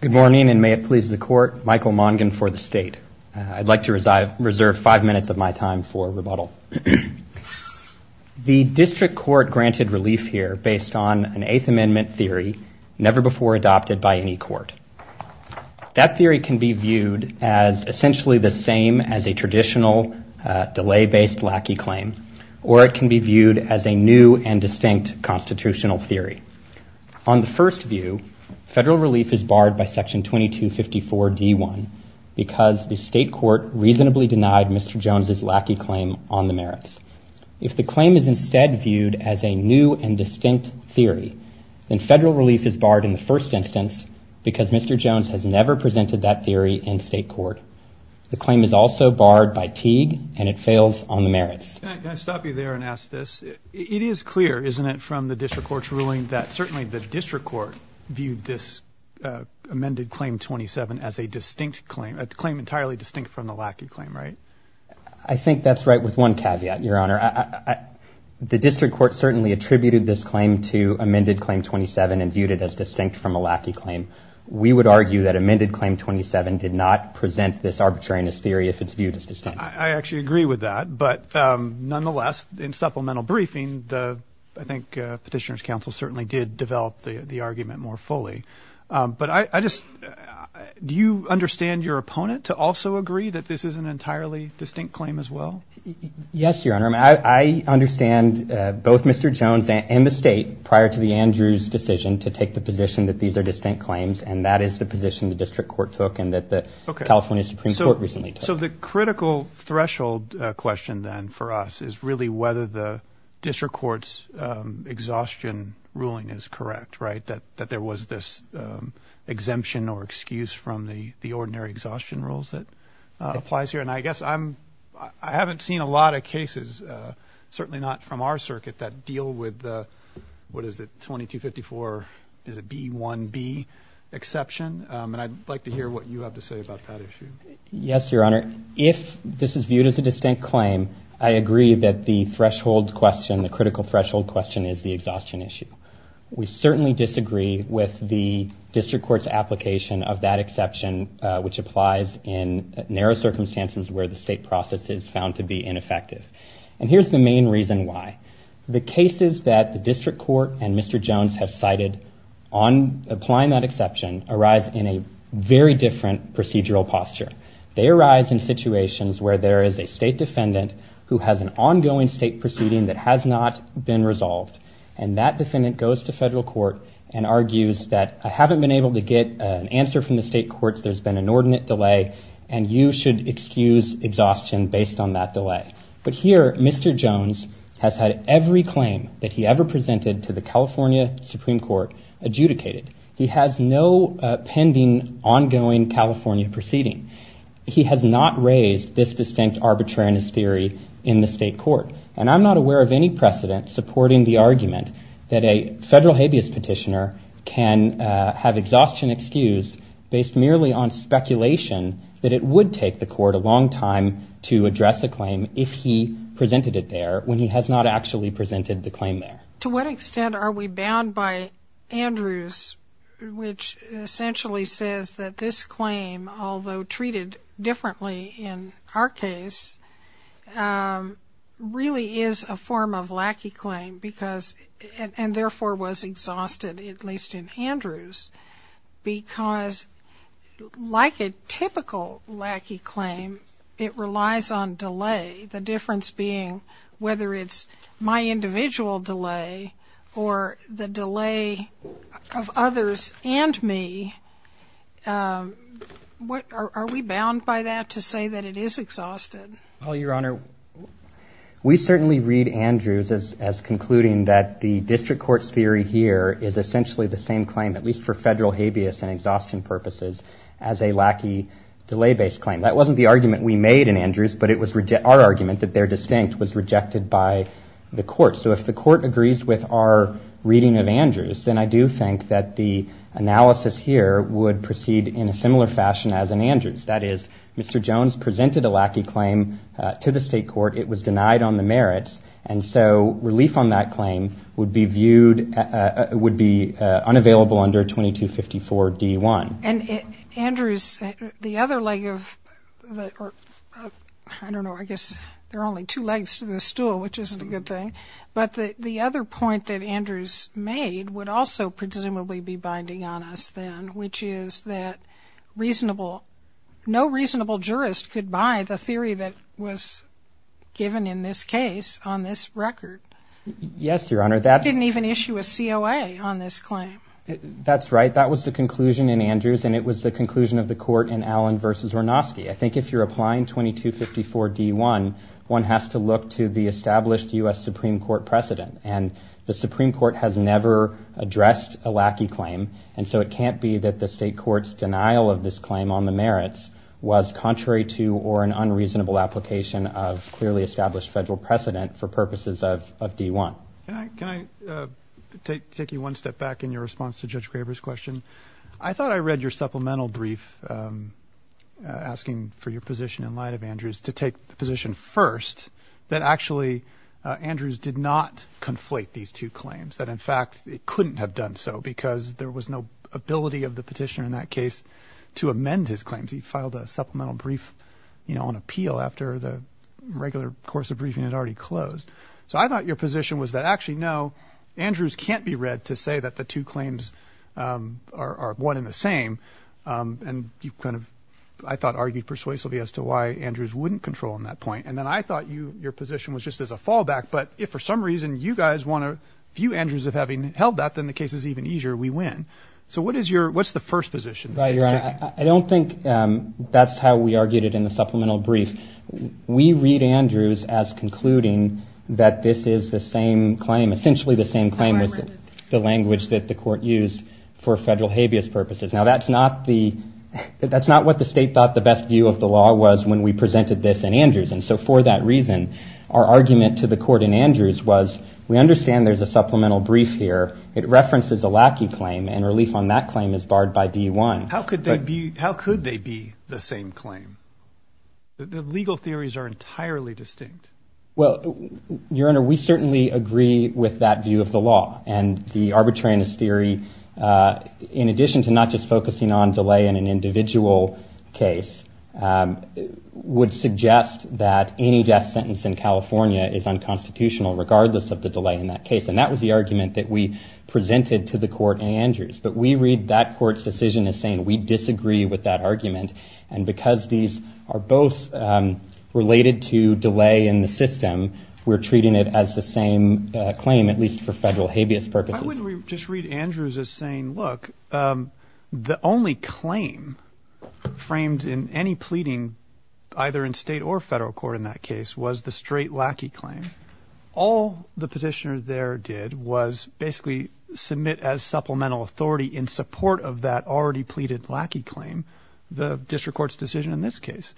Good morning, and may it please the court, Michael Mongin for the state. I'd like to reserve five minutes of my time for rebuttal. The district court granted relief here based on an Eighth Amendment theory never before adopted by any court. That theory can be viewed as essentially the same as a traditional delay-based lackey claim, or it can be viewed as a new and distinct constitutional theory. On the first view, federal relief is barred by Section 2254 D1 because the state court reasonably denied Mr. Jones's lackey claim on the merits. If the claim is instead viewed as a new and distinct theory, then federal relief is barred in the first instance because Mr. Jones has never presented that theory in state court. The claim is also barred by Teague, and it fails on the merits. Can I stop you there and ask this? It is clear, isn't it, from the district court's ruling that certainly the district court viewed this amended Claim 27 as a distinct claim, a claim entirely distinct from the lackey claim, right? I think that's right with one caveat, Your Honor. The district court certainly attributed this claim to amended Claim 27 and viewed it as distinct from a lackey claim. We would argue that amended Claim 27 did not present this arbitrariness theory if it's viewed as distinct. I actually agree with that. But nonetheless, in supplemental briefing, I think Petitioner's Counsel certainly did develop the argument more fully. But I just do you understand your opponent to also agree that this is an entirely distinct claim as well? Yes, Your Honor. I understand both Mr. Jones and the state prior to the Andrews decision to take the position that these are distinct claims, and that is the position the district court took and that the California Supreme Court recently took. So the critical threshold question then for us is really whether the district court's exhaustion ruling is correct, right? That there was this exemption or excuse from the ordinary exhaustion rules that applies here. And I guess I haven't seen a lot of cases, certainly not from our circuit, that deal with the, what is it, 2254? Is it B1B exception? And I'd like to hear what you have to say about that issue. Yes, Your Honor. If this is viewed as a distinct claim, I agree that the threshold question, the critical threshold question is the exhaustion issue. We certainly disagree with the district court's application of that exception, which applies in narrow circumstances where the state process is found to be ineffective. And here's the main reason why. The cases that the district court and Mr. Jones have cited on applying that exception arise in a very different procedural posture. They arise in situations where there is a state defendant who has an ongoing state proceeding that has not been resolved. And that defendant goes to federal court and argues that I haven't been able to get an answer from the state courts. There's been an ordinate delay, and you should excuse exhaustion based on that delay. But here, Mr. Jones has had every claim that he ever presented to the California Supreme Court adjudicated. He has no pending ongoing California proceeding. He has not raised this distinct arbitrariness theory in the state court. And I'm not aware of any precedent supporting the argument that a federal habeas petitioner can have exhaustion excused based merely on speculation that it would take the court a long time to address a claim if he presented it there, when he has not actually presented the claim there. To what extent are we bound by Andrews, which essentially says that this claim, although treated differently in our case, really is a form of lackey claim, and therefore was exhausted, at least in Andrews, because like a typical lackey claim, it relies on delay, the difference being whether it's my individual delay or the delay of others and me. Are we bound by that to say that it is exhausted? Well, Your Honor, we certainly read Andrews as concluding that the district court's theory here is essentially the same claim, at least for federal habeas and exhaustion purposes, as a lackey delay-based claim. That wasn't the argument we made in Andrews, but it was our argument that their distinct was rejected by the court. So if the court agrees with our reading of Andrews, then I do think that the analysis here would proceed in a similar fashion as in Andrews. That is, Mr. Jones presented a lackey claim to the state court, it was denied on the merits, and so relief on that claim would be viewed, would be unavailable under 2254 D1. And Andrews, the other leg of the, I don't know, I guess there are only two legs to this stool, which isn't a good thing, but the other point that Andrews made would also presumably be binding on us then, which is that reasonable, no reasonable jurist could buy the theory that was given in this case on this record. Yes, Your Honor. He didn't even issue a COA on this claim. That's right. That was the conclusion in Andrews, and it was the conclusion of the court in Allen v. Wernoski. I think if you're applying 2254 D1, one has to look to the established U.S. Supreme Court precedent, that the state court's denial of this claim on the merits was contrary to or an unreasonable application of clearly established federal precedent for purposes of D1. Can I take you one step back in your response to Judge Graber's question? I thought I read your supplemental brief asking for your position in light of Andrews to take the position first that actually Andrews did not conflate these two claims, that in fact it couldn't have done so because there was no ability of the petitioner in that case to amend his claims. He filed a supplemental brief on appeal after the regular course of briefing had already closed. So I thought your position was that actually, no, Andrews can't be read to say that the two claims are one and the same, and you kind of, I thought, argued persuasively as to why Andrews wouldn't control on that point, and then I thought your position was just as a fallback, but if for some reason you guys want to view Andrews as having held that, then the case is even easier, we win. So what is your, what's the first position? Right, Your Honor, I don't think that's how we argued it in the supplemental brief. We read Andrews as concluding that this is the same claim, essentially the same claim as the language that the court used for federal habeas purposes. Now that's not the, that's not what the state thought the best view of the law was when we presented this in Andrews, and so for that reason, our argument to the court in Andrews was, we understand there's a supplemental brief here, it references a lackey claim, and relief on that claim is barred by DUI. How could they be, how could they be the same claim? The legal theories are entirely distinct. Well, Your Honor, we certainly agree with that view of the law, and the arbitrariness theory, in addition to not just focusing on delay in an individual case, would suggest that any death sentence in California is unconstitutional, regardless of the delay in that case, and that was the argument that we presented to the court in Andrews, but we read that court's decision as saying we disagree with that argument, and because these are both related to delay in the system, we're treating it as the same claim, at least for federal habeas purposes. Why wouldn't we just read Andrews as saying, look, the only claim framed in any pleading, either in state or federal court in that case, was the straight lackey claim. All the petitioner there did was basically submit as supplemental authority in support of that already pleaded lackey claim, the district court's decision in this case.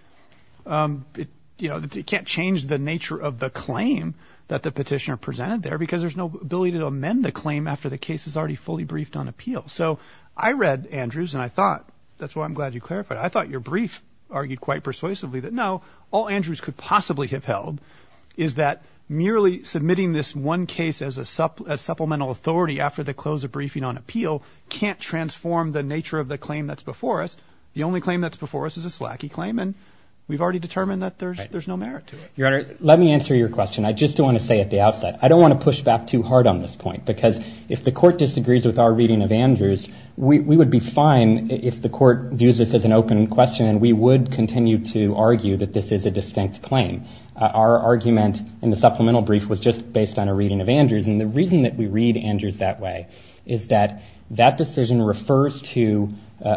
You know, you can't change the nature of the claim that the petitioner presented there because there's no ability to amend the claim after the case is already fully briefed on appeal. So I read Andrews, and I thought, that's why I'm glad you clarified, I thought your brief argued quite persuasively that, no, all Andrews could possibly have held is that merely submitting this one case as supplemental authority after the close of briefing on appeal can't transform the nature of the claim that's before us. The only claim that's before us is a slacky claim, and we've already determined that there's no merit to it. Your Honor, let me answer your question. I just want to say at the outset, I don't want to push back too hard on this point because if the court disagrees with our reading of Andrews, we would be fine if the court views this as an open question, and we would continue to argue that this is a distinct claim. Our argument in the supplemental brief was just based on a reading of Andrews, and the reason that we read Andrews that way is that that decision refers to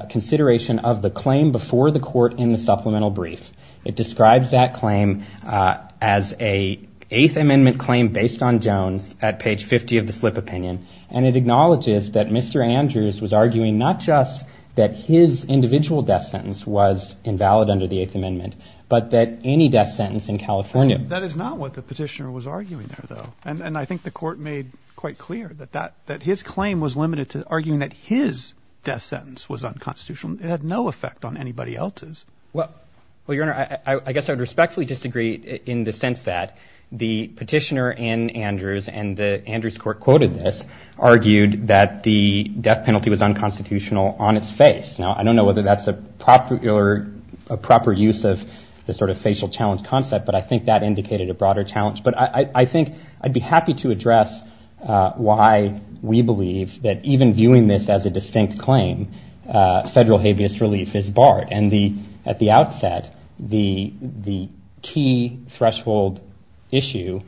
consideration of the claim before the court in the supplemental brief. It describes that claim as an Eighth Amendment claim based on Jones at page 50 of the slip opinion, and it acknowledges that Mr. Andrews was arguing not just that his individual death sentence was invalid under the Eighth Amendment, but that any death sentence in California. That is not what the petitioner was arguing there, though, and I think the court made quite clear that his claim was limited to arguing that his death sentence was unconstitutional. It had no effect on anybody else's. Well, Your Honor, I guess I would respectfully disagree in the sense that the petitioner in Andrews and the Andrews court quoted this argued that the death penalty was unconstitutional on its face. Now, I don't know whether that's a proper use of the sort of facial challenge concept, but I think that indicated a broader challenge. But I think I'd be happy to address why we believe that even viewing this as a distinct claim, federal habeas relief is barred. And at the outset, the key threshold issue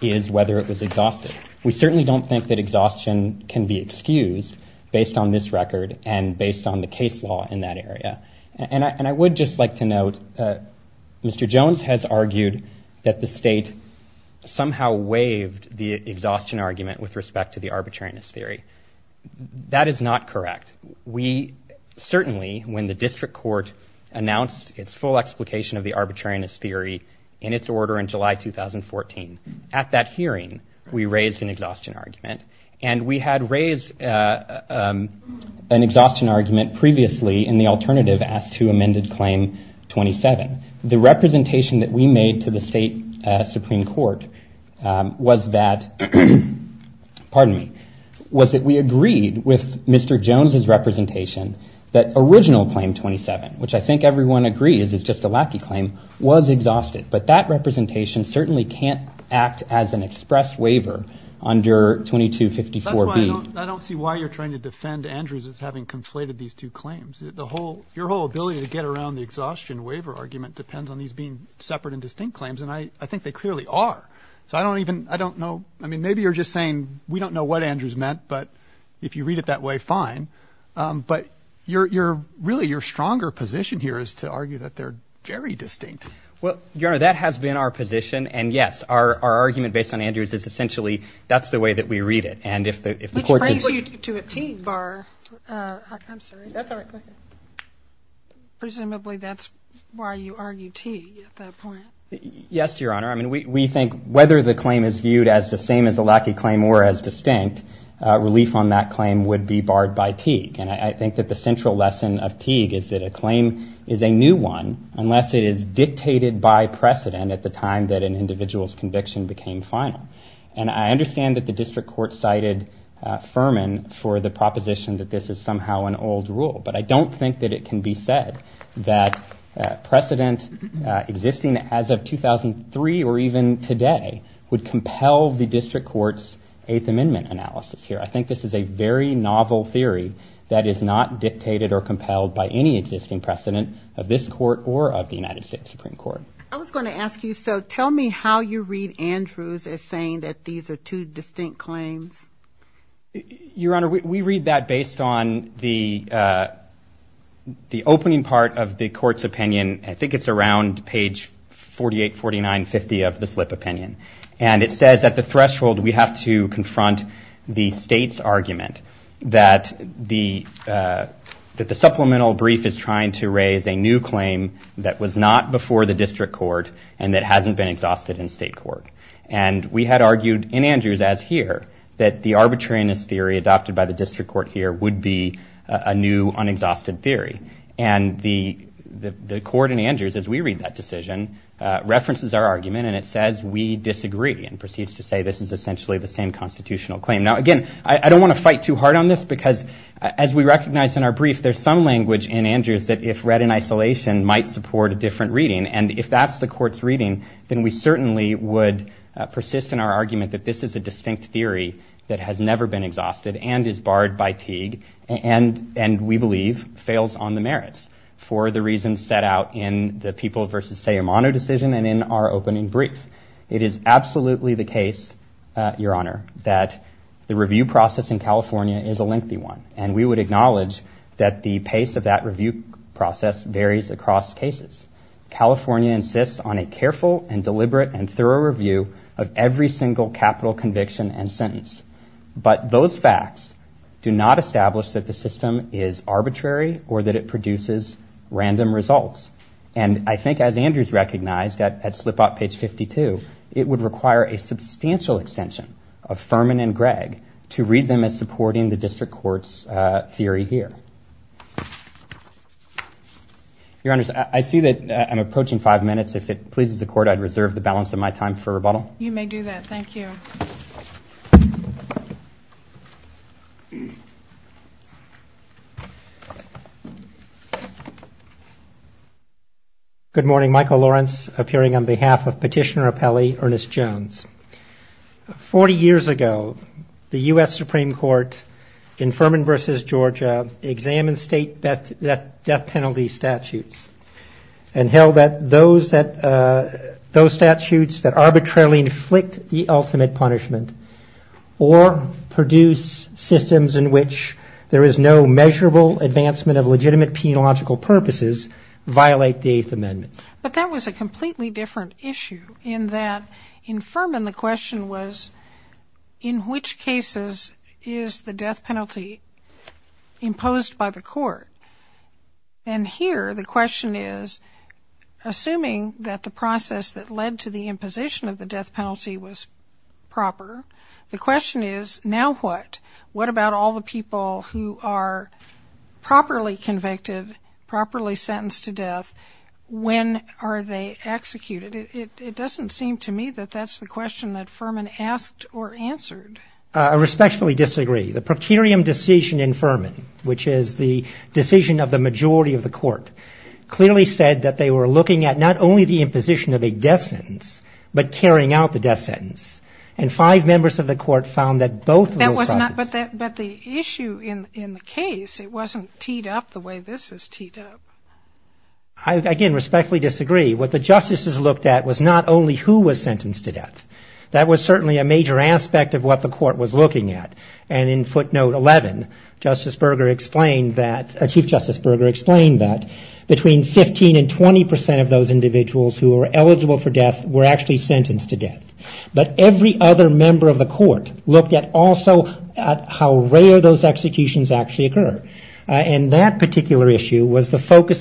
is whether it was exhausted. We certainly don't think that exhaustion can be excused based on this record and based on the case law in that area. And I would just like to note Mr. Jones has argued that the state somehow waived the exhaustion argument with respect to the arbitrariness theory. That is not correct. We certainly, when the district court announced its full explication of the arbitrariness theory in its order in July 2014, at that hearing, we raised an exhaustion argument. And we had raised an exhaustion argument previously in the alternative as to amended claim 27. The representation that we made to the state Supreme Court was that, pardon me, was that we agreed with Mr. Jones's representation that original claim 27, which I think everyone agrees is just a lackey claim, was exhausted. But that representation certainly can't act as an express waiver under 2254B. That's why I don't see why you're trying to defend Andrews as having conflated these two claims. The whole, your whole ability to get around the exhaustion waiver argument depends on these being separate and distinct claims. And I think they clearly are. So I don't even, I don't know. I mean, maybe you're just saying we don't know what Andrews meant, but if you read it that way, fine. But you're really, your stronger position here is to argue that they're very distinct. Well, Your Honor, that has been our position. And, yes, our argument based on Andrews is essentially that's the way that we read it. Which brings you to a Teague bar. I'm sorry. That's all right. Presumably that's why you argue Teague at that point. Yes, Your Honor. I mean, we think whether the claim is viewed as the same as a lackey claim or as distinct, relief on that claim would be barred by Teague. And I think that the central lesson of Teague is that a claim is a new one unless it is dictated by precedent at the time that an individual's conviction became final. And I understand that the district court cited Furman for the proposition that this is somehow an old rule. But I don't think that it can be said that precedent existing as of 2003 or even today would compel the district court's Eighth Amendment analysis here. I think this is a very novel theory that is not dictated or compelled by any existing precedent of this court or of the United States Supreme Court. I was going to ask you, so tell me how you read Andrews as saying that these are two distinct claims. Your Honor, we read that based on the opening part of the court's opinion. I think it's around page 48, 49, 50 of the slip opinion. And it says at the threshold we have to confront the state's argument that the supplemental brief is trying to raise a new claim that was not before the district court and that hasn't been exhausted in state court. And we had argued in Andrews as here that the arbitrariness theory adopted by the district court here would be a new, unexhausted theory. And the court in Andrews, as we read that decision, references our argument, and it says we disagree and proceeds to say this is essentially the same constitutional claim. Now, again, I don't want to fight too hard on this because as we recognize in our brief, there's some language in Andrews that if read in isolation might support a different reading. And if that's the court's reading, then we certainly would persist in our argument that this is a distinct theory that has never been exhausted and is barred by Teague and, we believe, fails on the merits for the reasons set out in the people versus Sayamano decision and in our opening brief. It is absolutely the case, Your Honor, that the review process in California is a lengthy one. And we would acknowledge that the pace of that review process varies across cases. California insists on a careful and deliberate and thorough review of every single capital conviction and sentence. But those facts do not establish that the system is arbitrary or that it produces random results. And I think as Andrews recognized at slip out page 52, it would require a substantial extension of Furman and Gregg to read them as supporting the district court's theory here. Your Honors, I see that I'm approaching five minutes. If it pleases the court, I'd reserve the balance of my time for rebuttal. You may do that. Thank you. Good morning. Michael Lawrence, appearing on behalf of Petitioner Appellee Ernest Jones. Forty years ago, the U.S. Supreme Court in Furman versus Georgia examined state death penalty statutes and held that those statutes that arbitrarily inflict the ultimate punishment or produce systems in which there is no measurable advancement of legitimate penological purposes violate the Eighth Amendment. But that was a completely different issue in that in Furman, the question was, in which cases is the death penalty imposed by the court? And here the question is, assuming that the process that led to the imposition of the death penalty was proper, the question is, now what? What about all the people who are properly convicted, properly sentenced to death? When are they executed? It doesn't seem to me that that's the question that Furman asked or answered. I respectfully disagree. The prokaryot decision in Furman, which is the decision of the majority of the court, clearly said that they were looking at not only the imposition of a death sentence, but carrying out the death sentence. And five members of the court found that both of those processes. But the issue in the case, it wasn't teed up the way this is teed up. I, again, respectfully disagree. What the justices looked at was not only who was sentenced to death. That was certainly a major aspect of what the court was looking at. And in footnote 11, Chief Justice Berger explained that between 15 and 20 percent of those individuals who were eligible for death were actually convicted, that the randomness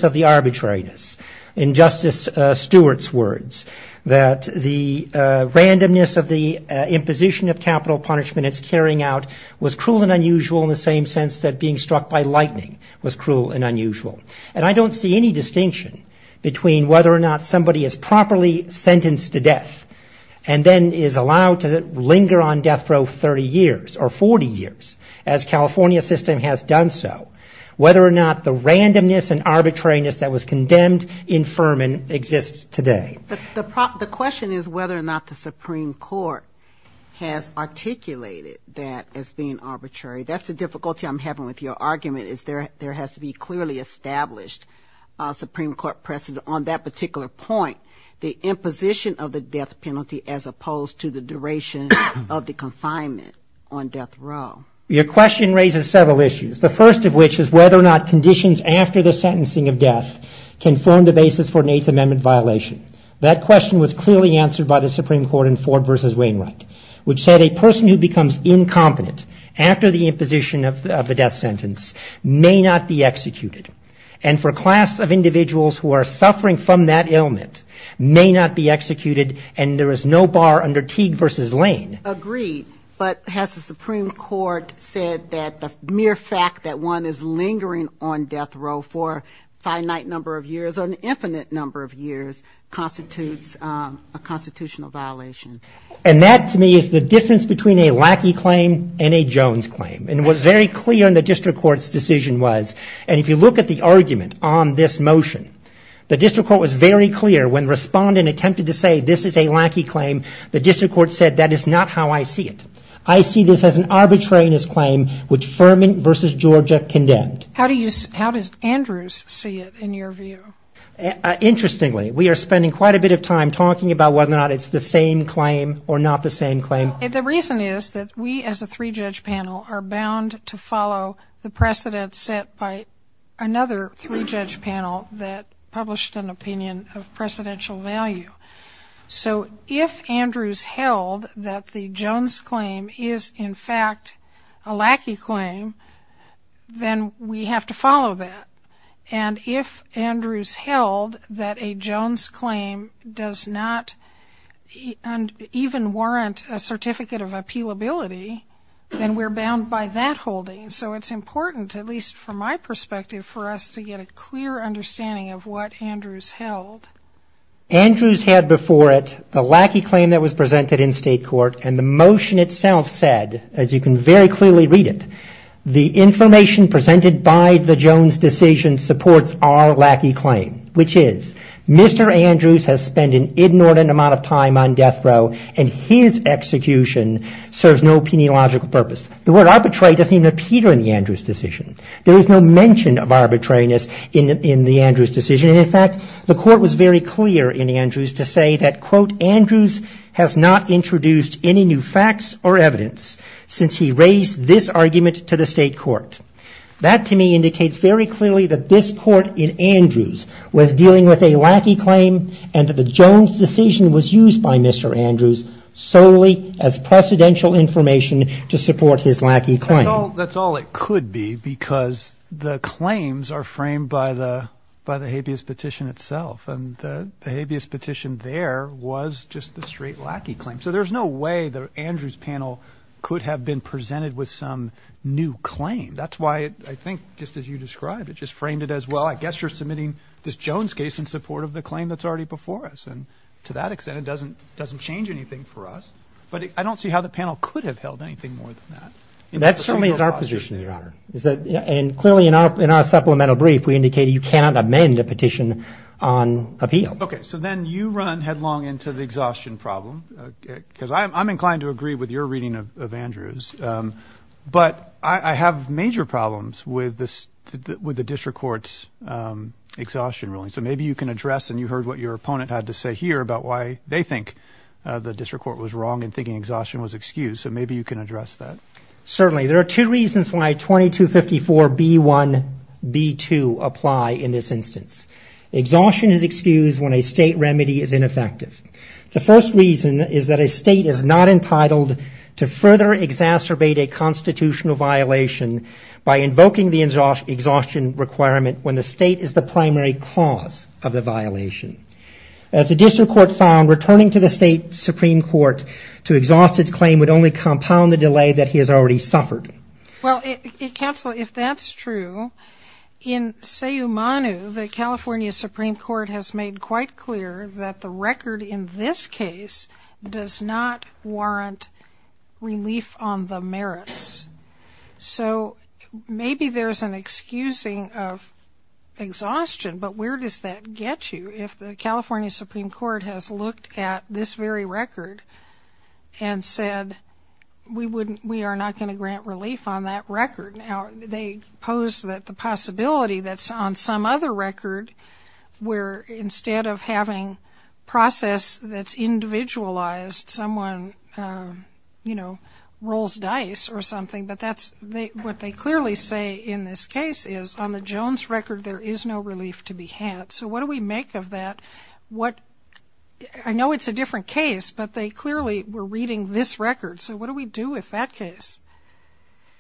of the arbitrariness, in Justice Stewart's words, that the randomness of the imposition of capital punishment it's carrying out was cruel and unusual in the same sense that being struck by lightning was cruel and unusual. And I don't see any distinction between whether or not somebody is properly sentenced to death and then is allowed to linger on death row 30 years or 40 years, as California system has done so, whether or not the randomness and arbitrariness that was condemned in Furman exists today. The question is whether or not the Supreme Court has articulated that as being arbitrary. That's the difficulty I'm having with your argument is there has to be clearly established Supreme Court precedent on that particular point, the imposition of the death penalty as opposed to the duration of the confinement on death row. Your question raises several issues, the first of which is whether or not conditions after the sentencing of death can form the basis for an Eighth Amendment violation. That question was clearly answered by the Supreme Court in Ford v. Wainwright, which said a person who becomes incompetent after the imposition of a death sentence may not be executed, and for a class of individuals who are suffering from that ailment may not be executed, and there is no bar under Teague v. Lane. Agreed, but has the Supreme Court said that the mere fact that one is lingering on death row for a finite number of years or an infinite number of years constitutes a constitutional violation? And that to me is the difference between a Lackey claim and a Jones claim, and what's very clear in the District Court's decision was, and if you look at the argument on this motion, the District Court was very clear when respondent attempted to say this is a Lackey claim, the District Court agreed to that, and that's just not how I see it. I see this as an arbitrariness claim, which Firman v. Georgia condemned. How does Andrews see it in your view? Interestingly, we are spending quite a bit of time talking about whether or not it's the same claim, or not the same claim. The reason is that we as a three-judge panel are bound to follow the precedents set by another three-judge panel that published an opinion of a Jones claim is, in fact, a lackey claim, then we have to follow that. And if Andrews held that a Jones claim does not even warrant a certificate of appealability, then we're bound by that holding. So it's important, at least from my perspective, for us to get a clear understanding of what Andrews held. Andrews had before it the lackey claim that was presented in State Court, and the motion itself said, as you can very clearly read it, the information presented by the Jones decision supports our lackey claim, which is Mr. Andrews has spent an inordinate amount of time on death row, and his execution serves no penealogical purpose. The word arbitrary doesn't even appear in the Andrews decision. It's very clear in Andrews to say that, quote, Andrews has not introduced any new facts or evidence since he raised this argument to the State Court. That, to me, indicates very clearly that this Court in Andrews was dealing with a lackey claim, and that the Jones decision was used by Mr. Andrews solely as precedential information to support his lackey claim. That's all it could be, because the claims are framed by the habeas petition itself, and the claims are framed by Mr. Andrews. The habeas petition there was just the straight lackey claim, so there's no way the Andrews panel could have been presented with some new claim. That's why I think, just as you described, it just framed it as, well, I guess you're submitting this Jones case in support of the claim that's already before us, and to that extent it doesn't change anything for us. But I don't see how the panel could have held anything more than that. That certainly is our position, Your Honor. And clearly in our supplemental brief we indicated you cannot amend a petition on appeal. Okay, so then you run headlong into the exhaustion problem, because I'm inclined to agree with your reading of Andrews, but I have major problems with the district court's exhaustion ruling. So maybe you can address, and you heard what your opponent had to say here about why they think the district court was wrong in thinking exhaustion was excused, so maybe you can address that. Certainly, there are two reasons why 2254B1B2 apply in this instance. Exhaustion is excused when a state remedy is ineffective. The first reason is that a state is not entitled to further exacerbate a constitutional violation by invoking the exhaustion requirement when the state is the primary cause of the violation. As the district court found, returning to the state supreme court to exhaust its claim would only compound the delay that he has already set. And the second reason is that the state has suffered. Well, counsel, if that's true, in Sayumanu the California supreme court has made quite clear that the record in this case does not warrant relief on the merits. So maybe there's an excusing of exhaustion, but where does that get you if the California supreme court has looked at this very record and said we are not going to grant you any relief on the merits? Well, the California supreme court has said that they are not going to grant relief on that record. Now, they pose that the possibility that's on some other record where instead of having process that's individualized, someone, you know, rolls dice or something, but that's what they clearly say in this case is on the Jones record there is no relief to be had. So what do we make of that? I know it's a different case, but they clearly were reading this record, so what do we do with that case?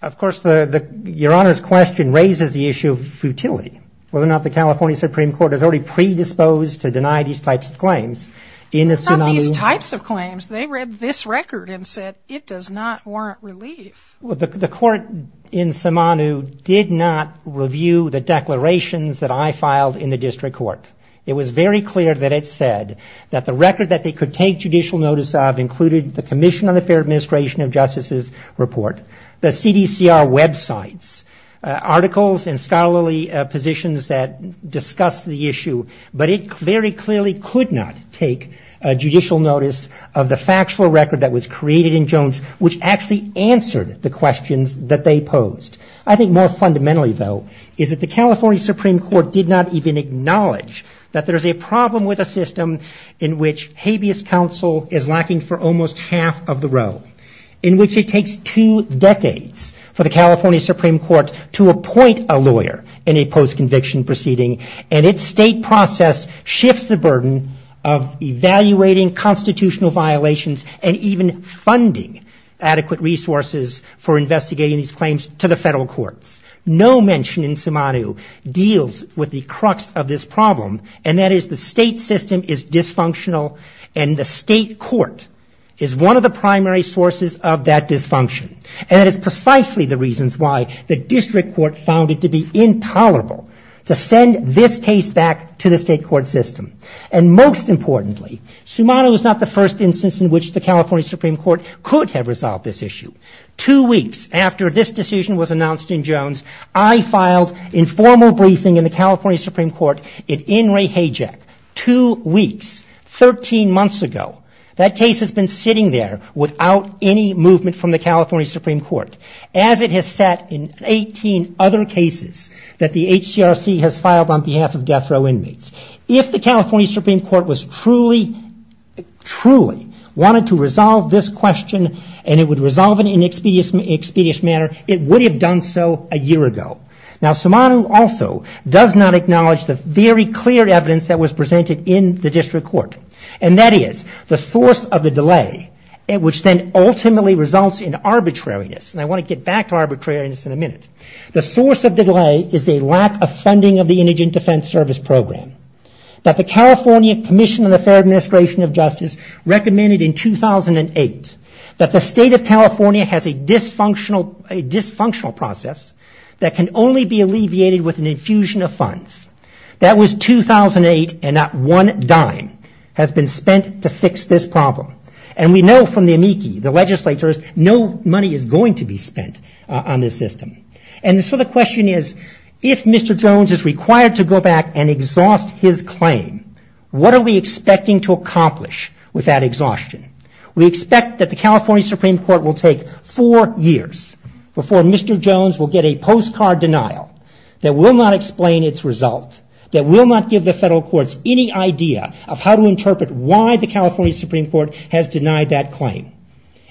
Of course, your honor's question raises the issue of futility, whether or not the California supreme court has already predisposed to deny these types of claims. Some of these types of claims, they read this record and said it does not warrant relief. Well, the court in Sayumanu did not review the declarations that I filed in the district court. It was very clear that it said that the record that they could take judicial notice of included the commission on the fair administration of justice's report, the CDCR websites, articles and scholarly positions that discuss the issue, but it very clearly could not take judicial notice of the factual record that was created in Jones, which actually answered the questions that they posed. I think more fundamentally, though, is that the California supreme court did not even acknowledge that there's a problem with a system in which habeas counsel is lacking for almost half of the row, in which it takes two decades for the California supreme court to appoint a lawyer in a post-conviction proceeding, and its state process shifts the burden of evaluating constitutional violations and even funding adequate resources for investigating these claims to the federal government. In fact, the state system is dysfunctional, and the state court is one of the primary sources of that dysfunction, and it is precisely the reasons why the district court found it to be intolerable to send this case back to the state court system. And most importantly, Sayumanu is not the first instance in which the California supreme court could have resolved this issue. Two weeks after this decision was announced in Jones, I filed informal briefing in the California supreme court at In re Hay Jack, two weeks, 13 months ago. That case has been sitting there without any movement from the California supreme court, as it has sat in 18 other cases that the HCRC has filed on behalf of death row inmates. If the California supreme court was truly, truly wanted to resolve this question, and it would resolve it any other way, it would not have been possible. If it were resolved in an expeditious manner, it would have done so a year ago. Now, Sayumanu also does not acknowledge the very clear evidence that was presented in the district court, and that is the source of the delay, which then ultimately results in arbitrariness. And I want to get back to arbitrariness in a minute. The source of the delay is a lack of funding of the indigent defense service program that the California commission of the federal administration of justice has a dysfunctional process that can only be alleviated with an infusion of funds. That was 2008, and not one dime has been spent to fix this problem. And we know from the amici, the legislators, no money is going to be spent on this system. And so the question is, if Mr. Jones is required to go back and exhaust his claim, what are we expecting to accomplish with that exhaustion? We expect that the California Supreme Court will take four years before Mr. Jones will get a postcard denial that will not explain its result, that will not give the federal courts any idea of how to interpret why the California Supreme Court has denied that claim.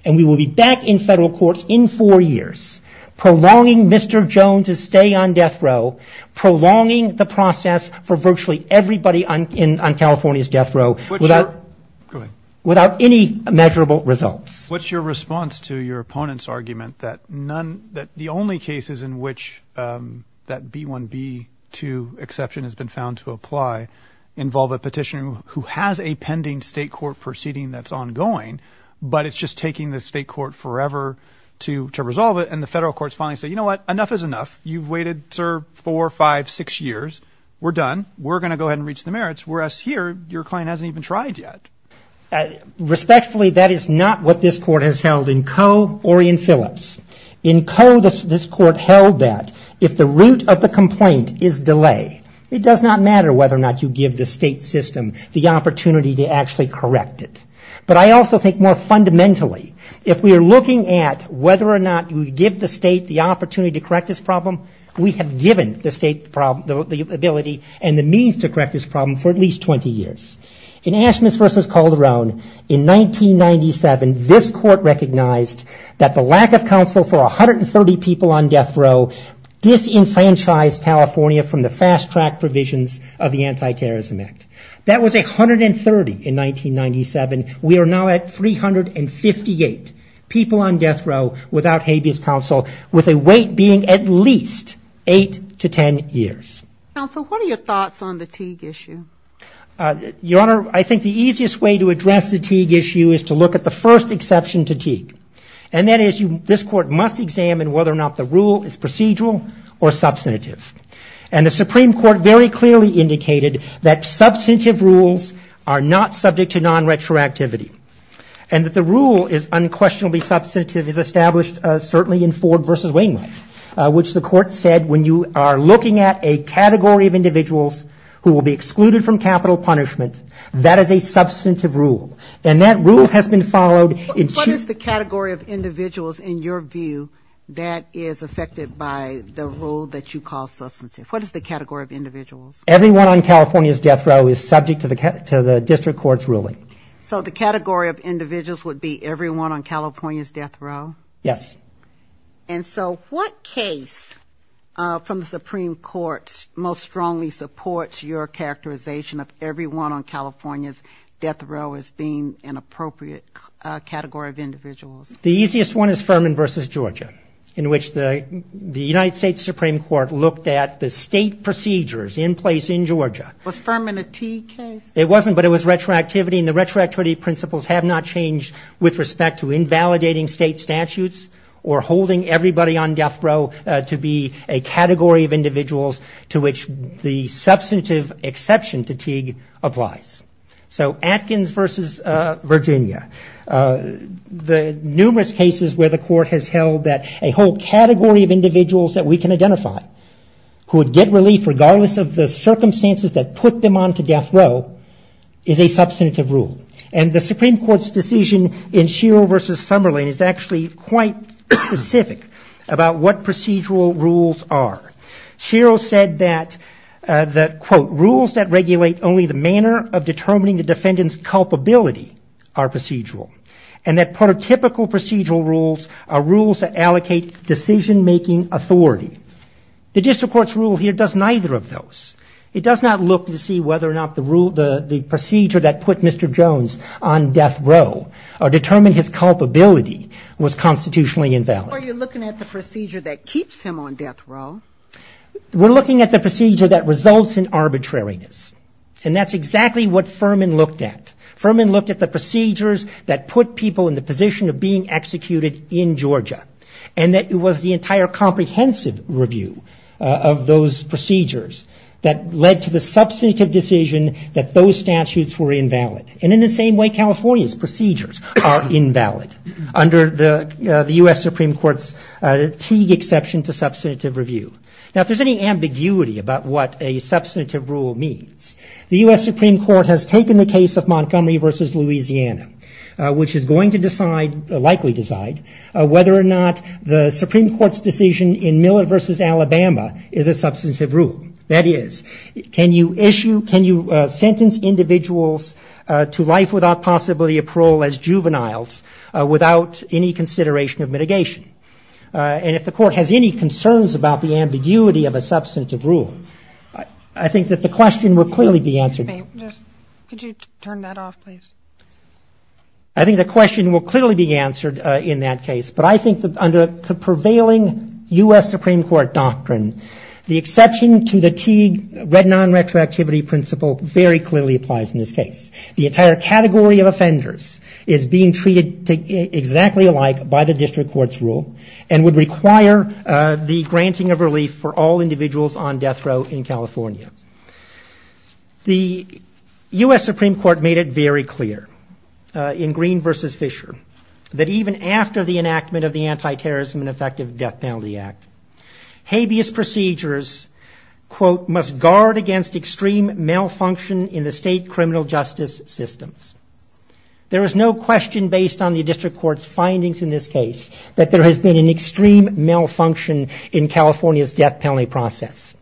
And we will be back in federal courts in four years prolonging Mr. Jones's stay on death row, prolonging the process for virtually everybody on California's death row. Without any measurable results. What's your response to your opponent's argument that none, that the only cases in which that B1B2 exception has been found to apply involve a petitioner who has a pending state court proceeding that's ongoing, but it's just taking the state court forever to resolve it, and the federal courts finally say, you know what, enough is enough, you've waited, sir, four, five, six years, we're done, we're going to go ahead and reach the merits. Whereas here, your client hasn't even tried yet. In Ashman's versus Calderon, in 1997, this court recognized that the lack of counsel for 130 people on death row disenfranchised California from the fast track provisions of the Anti-Terrorism Act. That was 130 in 1997, we are now at 358 people on death row without habeas counsel, with a wait being at least eight to ten years. Counsel, what are your thoughts on the Teague issue? Your Honor, I think the easiest way to address the Teague issue is to look at the first exception to Teague, and that is, this court must examine whether or not the rule is procedural or substantive. And the Supreme Court very clearly indicated that substantive rules are not subject to non-retroactivity, and that the rule is unquestionably substantive as established certainly in Ford versus Wainwright, which the court said when you are looking at a case that is not subject to non-retroactivity. The category of individuals who will be excluded from capital punishment, that is a substantive rule, and that rule has been followed in Teague. What is the category of individuals, in your view, that is affected by the rule that you call substantive? What is the category of individuals? Everyone on California's death row is subject to the district court's ruling. So the category of individuals would be everyone on California's death row? Yes. And so what case from the Supreme Court most strongly supports your characterization of everyone on California's death row as being an appropriate category of individuals? The easiest one is Furman versus Georgia, in which the United States Supreme Court looked at the state procedures in place in Georgia. Was Furman a Teague case? It wasn't, but it was retroactivity, and the retroactivity principles have not changed with respect to invalidating state statutes or holding everybody on death row to be a category of individuals to which the substantive exception to Teague applies. So Atkins versus Virginia. The numerous cases where the court has held that a whole category of individuals that we can identify who would get relief regardless of the circumstances that put them on to death row, is a substantive rule, and the Supreme Court's decision in Sherrill versus Summerlin is actually quite specific about what procedural rules are. Sherrill said that, quote, rules that regulate only the manner of determining the defendant's culpability are procedural, and that prototypical procedural rules are rules that allocate decision making authority. The district court's rule here does neither of those. The procedure that put Mr. Jones on death row, or determined his culpability, was constitutionally invalid. Are you looking at the procedure that keeps him on death row? We're looking at the procedure that results in arbitrariness, and that's exactly what Furman looked at. Furman looked at the procedures that put people in the position of being executed in Georgia, and that it was the entire comprehensive review of those procedures that led to the substantive decision that those statutes apply. Those statutes were invalid, and in the same way California's procedures are invalid, under the U.S. Supreme Court's Teague exception to substantive review. Now, if there's any ambiguity about what a substantive rule means, the U.S. Supreme Court has taken the case of Montgomery versus Louisiana, which is going to decide, likely decide, whether or not the Supreme Court's decision in Miller versus Alabama is a substantive rule. That is, can you issue, can you sentence individuals to life without possibility of parole as juveniles, without any consideration of mitigation? And if the court has any concerns about the ambiguity of a substantive rule, I think that the question will clearly be answered. I think the question will clearly be answered in that case, but I think that under the prevailing U.S. Supreme Court doctrine, the exception to the substantive rule is a substantive rule, and the Teague red non-retroactivity principle very clearly applies in this case. The entire category of offenders is being treated exactly alike by the district court's rule, and would require the granting of relief for all individuals on death row in California. The U.S. Supreme Court made it very clear in Green versus Fisher that even after the enactment of the Anti-Terrorism and Effective Death Penalty Act, habeas procedures, quote, must guard against extreme malfunction in the state criminal justice systems. There is no question based on the district court's findings in this case that there has been an extreme malfunction in California's death penalty process.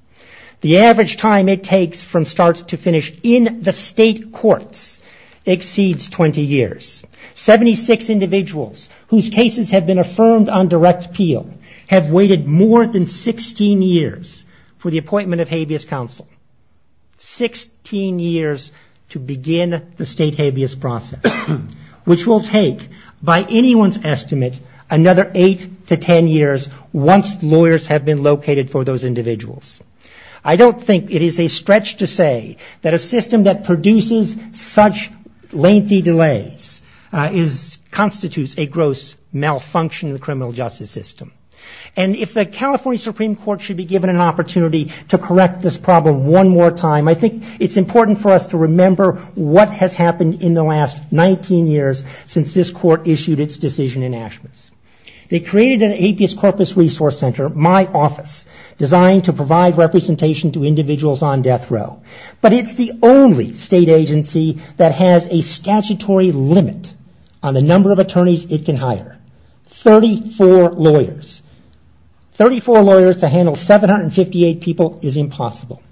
The average time it takes from start to finish in the state courts exceeds 20 years. Seventy-six individuals whose cases have been affirmed on direct appeal have waited more than 16 years to receive their death penalty. That's 16 years for the appointment of habeas counsel, 16 years to begin the state habeas process, which will take, by anyone's estimate, another 8 to 10 years once lawyers have been located for those individuals. I don't think it is a stretch to say that a system that produces such lengthy delays constitutes a gross malfunction in the criminal justice system. And if the California Supreme Court should be given an opportunity to correct this problem one more time, I think it's important for us to remember what has happened in the last 19 years since this court issued its decision in Ashmus. They created an habeas corpus resource center, my office, designed to provide representation to individuals on death row. But it's the only state agency that has a statutory limit on the number of attorneys it can hire. Thirty-four lawyers, 34 lawyers to handle 758 people is impossible.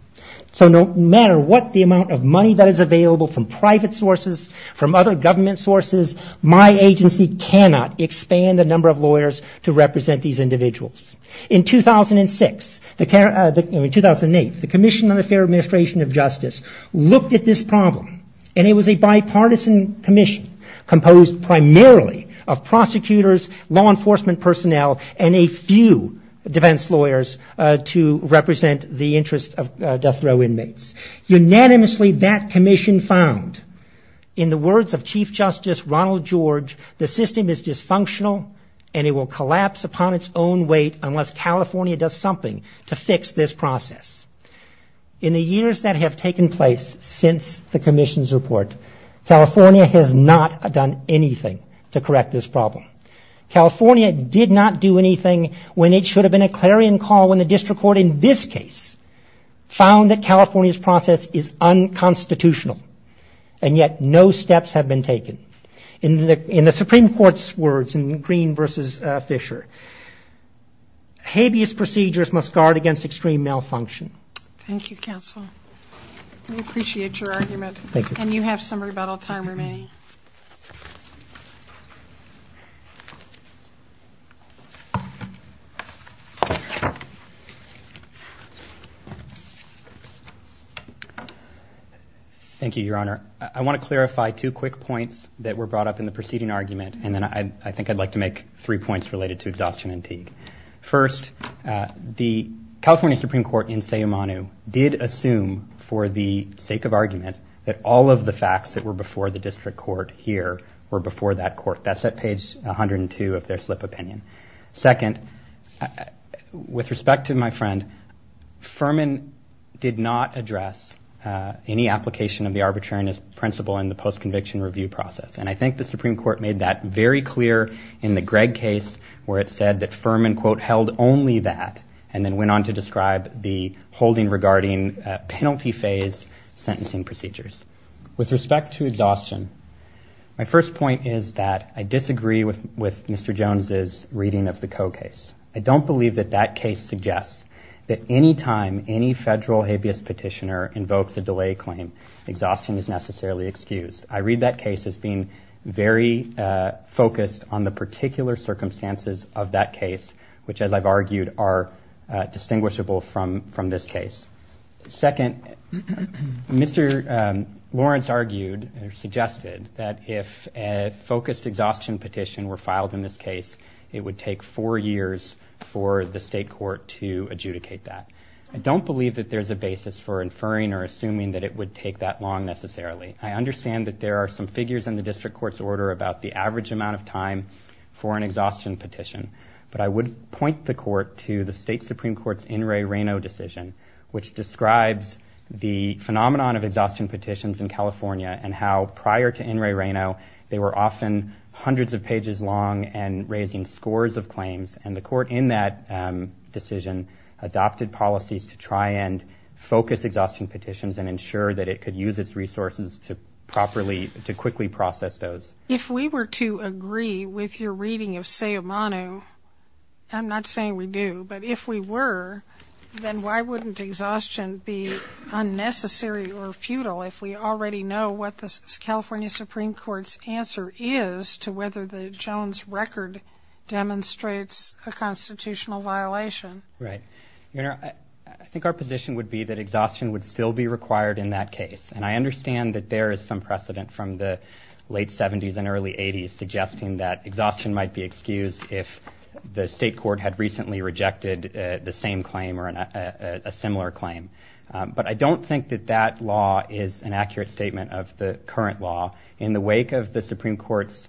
So no matter what the amount of money that is available from private sources, from other government sources, my agency cannot expand the number of lawyers to represent these individuals. In 2006, in 2008, the Commission on the Fair Administration of Justice looked at this problem and it was a bipartisan commission composed primarily of prosecutors, prosecutors, law enforcement personnel, and a few defense lawyers to represent the interest of death row inmates. Unanimously, that commission found, in the words of Chief Justice Ronald George, the system is dysfunctional and it will collapse upon its own weight unless California does something to fix this process. In the years that have taken place since the commission's report, California has not done anything to correct this problem. California did not do anything when it should have been a clarion call when the district court in this case found that California's process is unconstitutional, and yet no steps have been taken. In the Supreme Court's words in Green v. Fisher, habeas procedures must guard against extreme malfunction. Thank you, counsel. Thank you, Your Honor. I want to clarify two quick points that were brought up in the preceding argument, and then I think I'd like to make three points related to exhaustion and Teague. First, the California Supreme Court in Sayomanu did assume, for the sake of argument, that all of the facts that were before the district court here were before that court. That's at page 102 of their slip opinion. Second, with respect to my friend, Furman did not address any application of the arbitrariness principle in the post-conviction review process, and I think the Supreme Court made that very clear in the Gregg case where it said that Furman, quote, held only that, and then went on to describe the holding regarding penalty phase sentencing procedures. With respect to exhaustion, my first point is that I disagree with Mr. Jones's reading of the Coe case. I don't believe that that case suggests that any time any federal habeas petitioner invokes a delay claim, exhaustion is necessarily excused. I read that case as being very focused on the particular circumstances of that case, which, as I've argued, are distinguishable from this case. Second, Mr. Lawrence argued, or suggested, that if a focused exhaustion petition were filed in this case, it would take four years for the state court to adjudicate that. I don't believe that there's a basis for inferring or assuming that it would take that long, necessarily. I understand that there are some figures in the district court's order about the average amount of time for an exhaustion petition, but I would point the court to the state Supreme Court's N. Ray Rano decision, which describes the phenomenon of exhaustion petitions in California and how, prior to N. Ray Rano, they were often hundreds of pages long and raising scores of claims. And the court in that decision adopted policies to try and focus exhaustion petitions and ensure that it could use its resources to properly, to quickly process those. If we were to agree with your reading of Sayamano, I'm not saying we do, but if we were, then why would we have to file an exhaustion petition? Why would a patent exhaustion be unnecessary or futile if we already know what the California Supreme Court's answer is to whether the Jones record demonstrates a constitutional violation? Right. Your Honor, I think our position would be that exhaustion would still be required in that case, and I understand that there is some precedent from the late 70s and early 80s suggesting that exhaustion might be excused if the state court had recently rejected the same claim or a separate petition. And I think that the state court would have to make a similar claim. But I don't think that that law is an accurate statement of the current law. In the wake of the Supreme Court's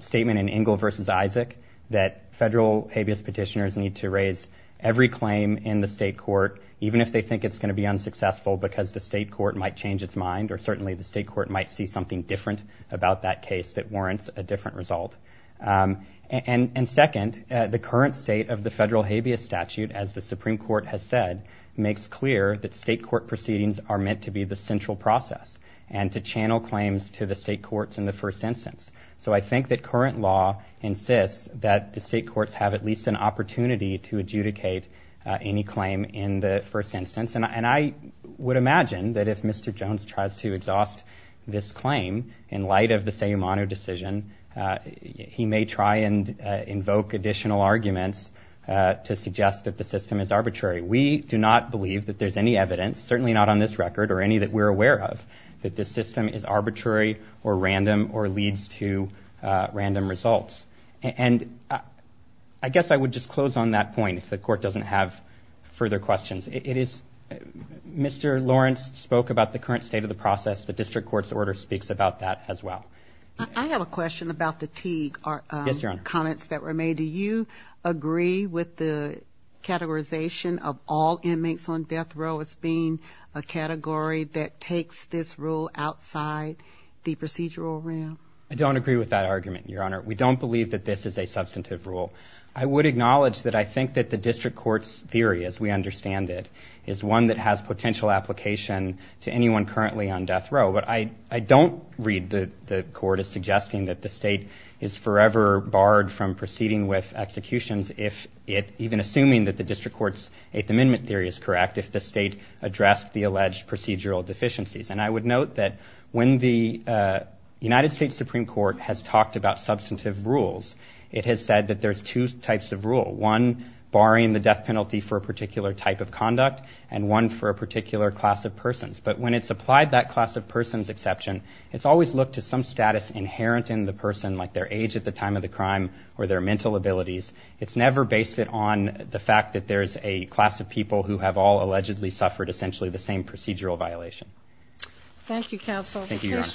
statement in Engle v. Isaac that federal habeas petitioners need to raise every claim in the state court, even if they think it's going to be unsuccessful because the state court might change its mind, or certainly the state court might see something different about that case that warrants a different result. And second, the current state of the federal habeas statute, as the Supreme Court has said, makes clear that state court proceedings are meant to be the central process and to channel claims to the state courts in the first instance. So I think that current law insists that the state courts have at least an opportunity to adjudicate any claim in the first instance. And I would imagine that if Mr. Jones tries to exhaust this claim in light of the Sayumano decision, you know, he's going to have to go to the Supreme Court. He may try and invoke additional arguments to suggest that the system is arbitrary. We do not believe that there's any evidence, certainly not on this record or any that we're aware of, that this system is arbitrary or random or leads to random results. And I guess I would just close on that point if the court doesn't have further questions. It is Mr. Lawrence spoke about the current state of the process. The district court's order speaks about that as well. I have a question about the Teague comments that were made. Do you agree with the categorization of all inmates on death row as being a category that takes this rule outside the procedural realm? I don't agree with that argument, Your Honor. We don't believe that this is a substantive rule. I would acknowledge that I think that the district court's theory, as we understand it, is one that has potential application to anyone currently on death row. But I don't read the court as suggesting that the state is forever barred from proceeding with executions, even assuming that the district court's Eighth Amendment theory is correct, if the state addressed the alleged procedural deficiencies. And I would note that when the United States Supreme Court has talked about substantive rules, it has said that there's two types of rule. One barring the death penalty for a particular type of conduct and one for a particular class of persons. But when it's applied that class of persons exception, it's always looked to some status inherent in the person, like their age at the time of the crime or their mental abilities. It's never based it on the fact that there's a class of people who have all allegedly suffered essentially the same procedural violation. Thank you, counsel. Thank you, Your Honor.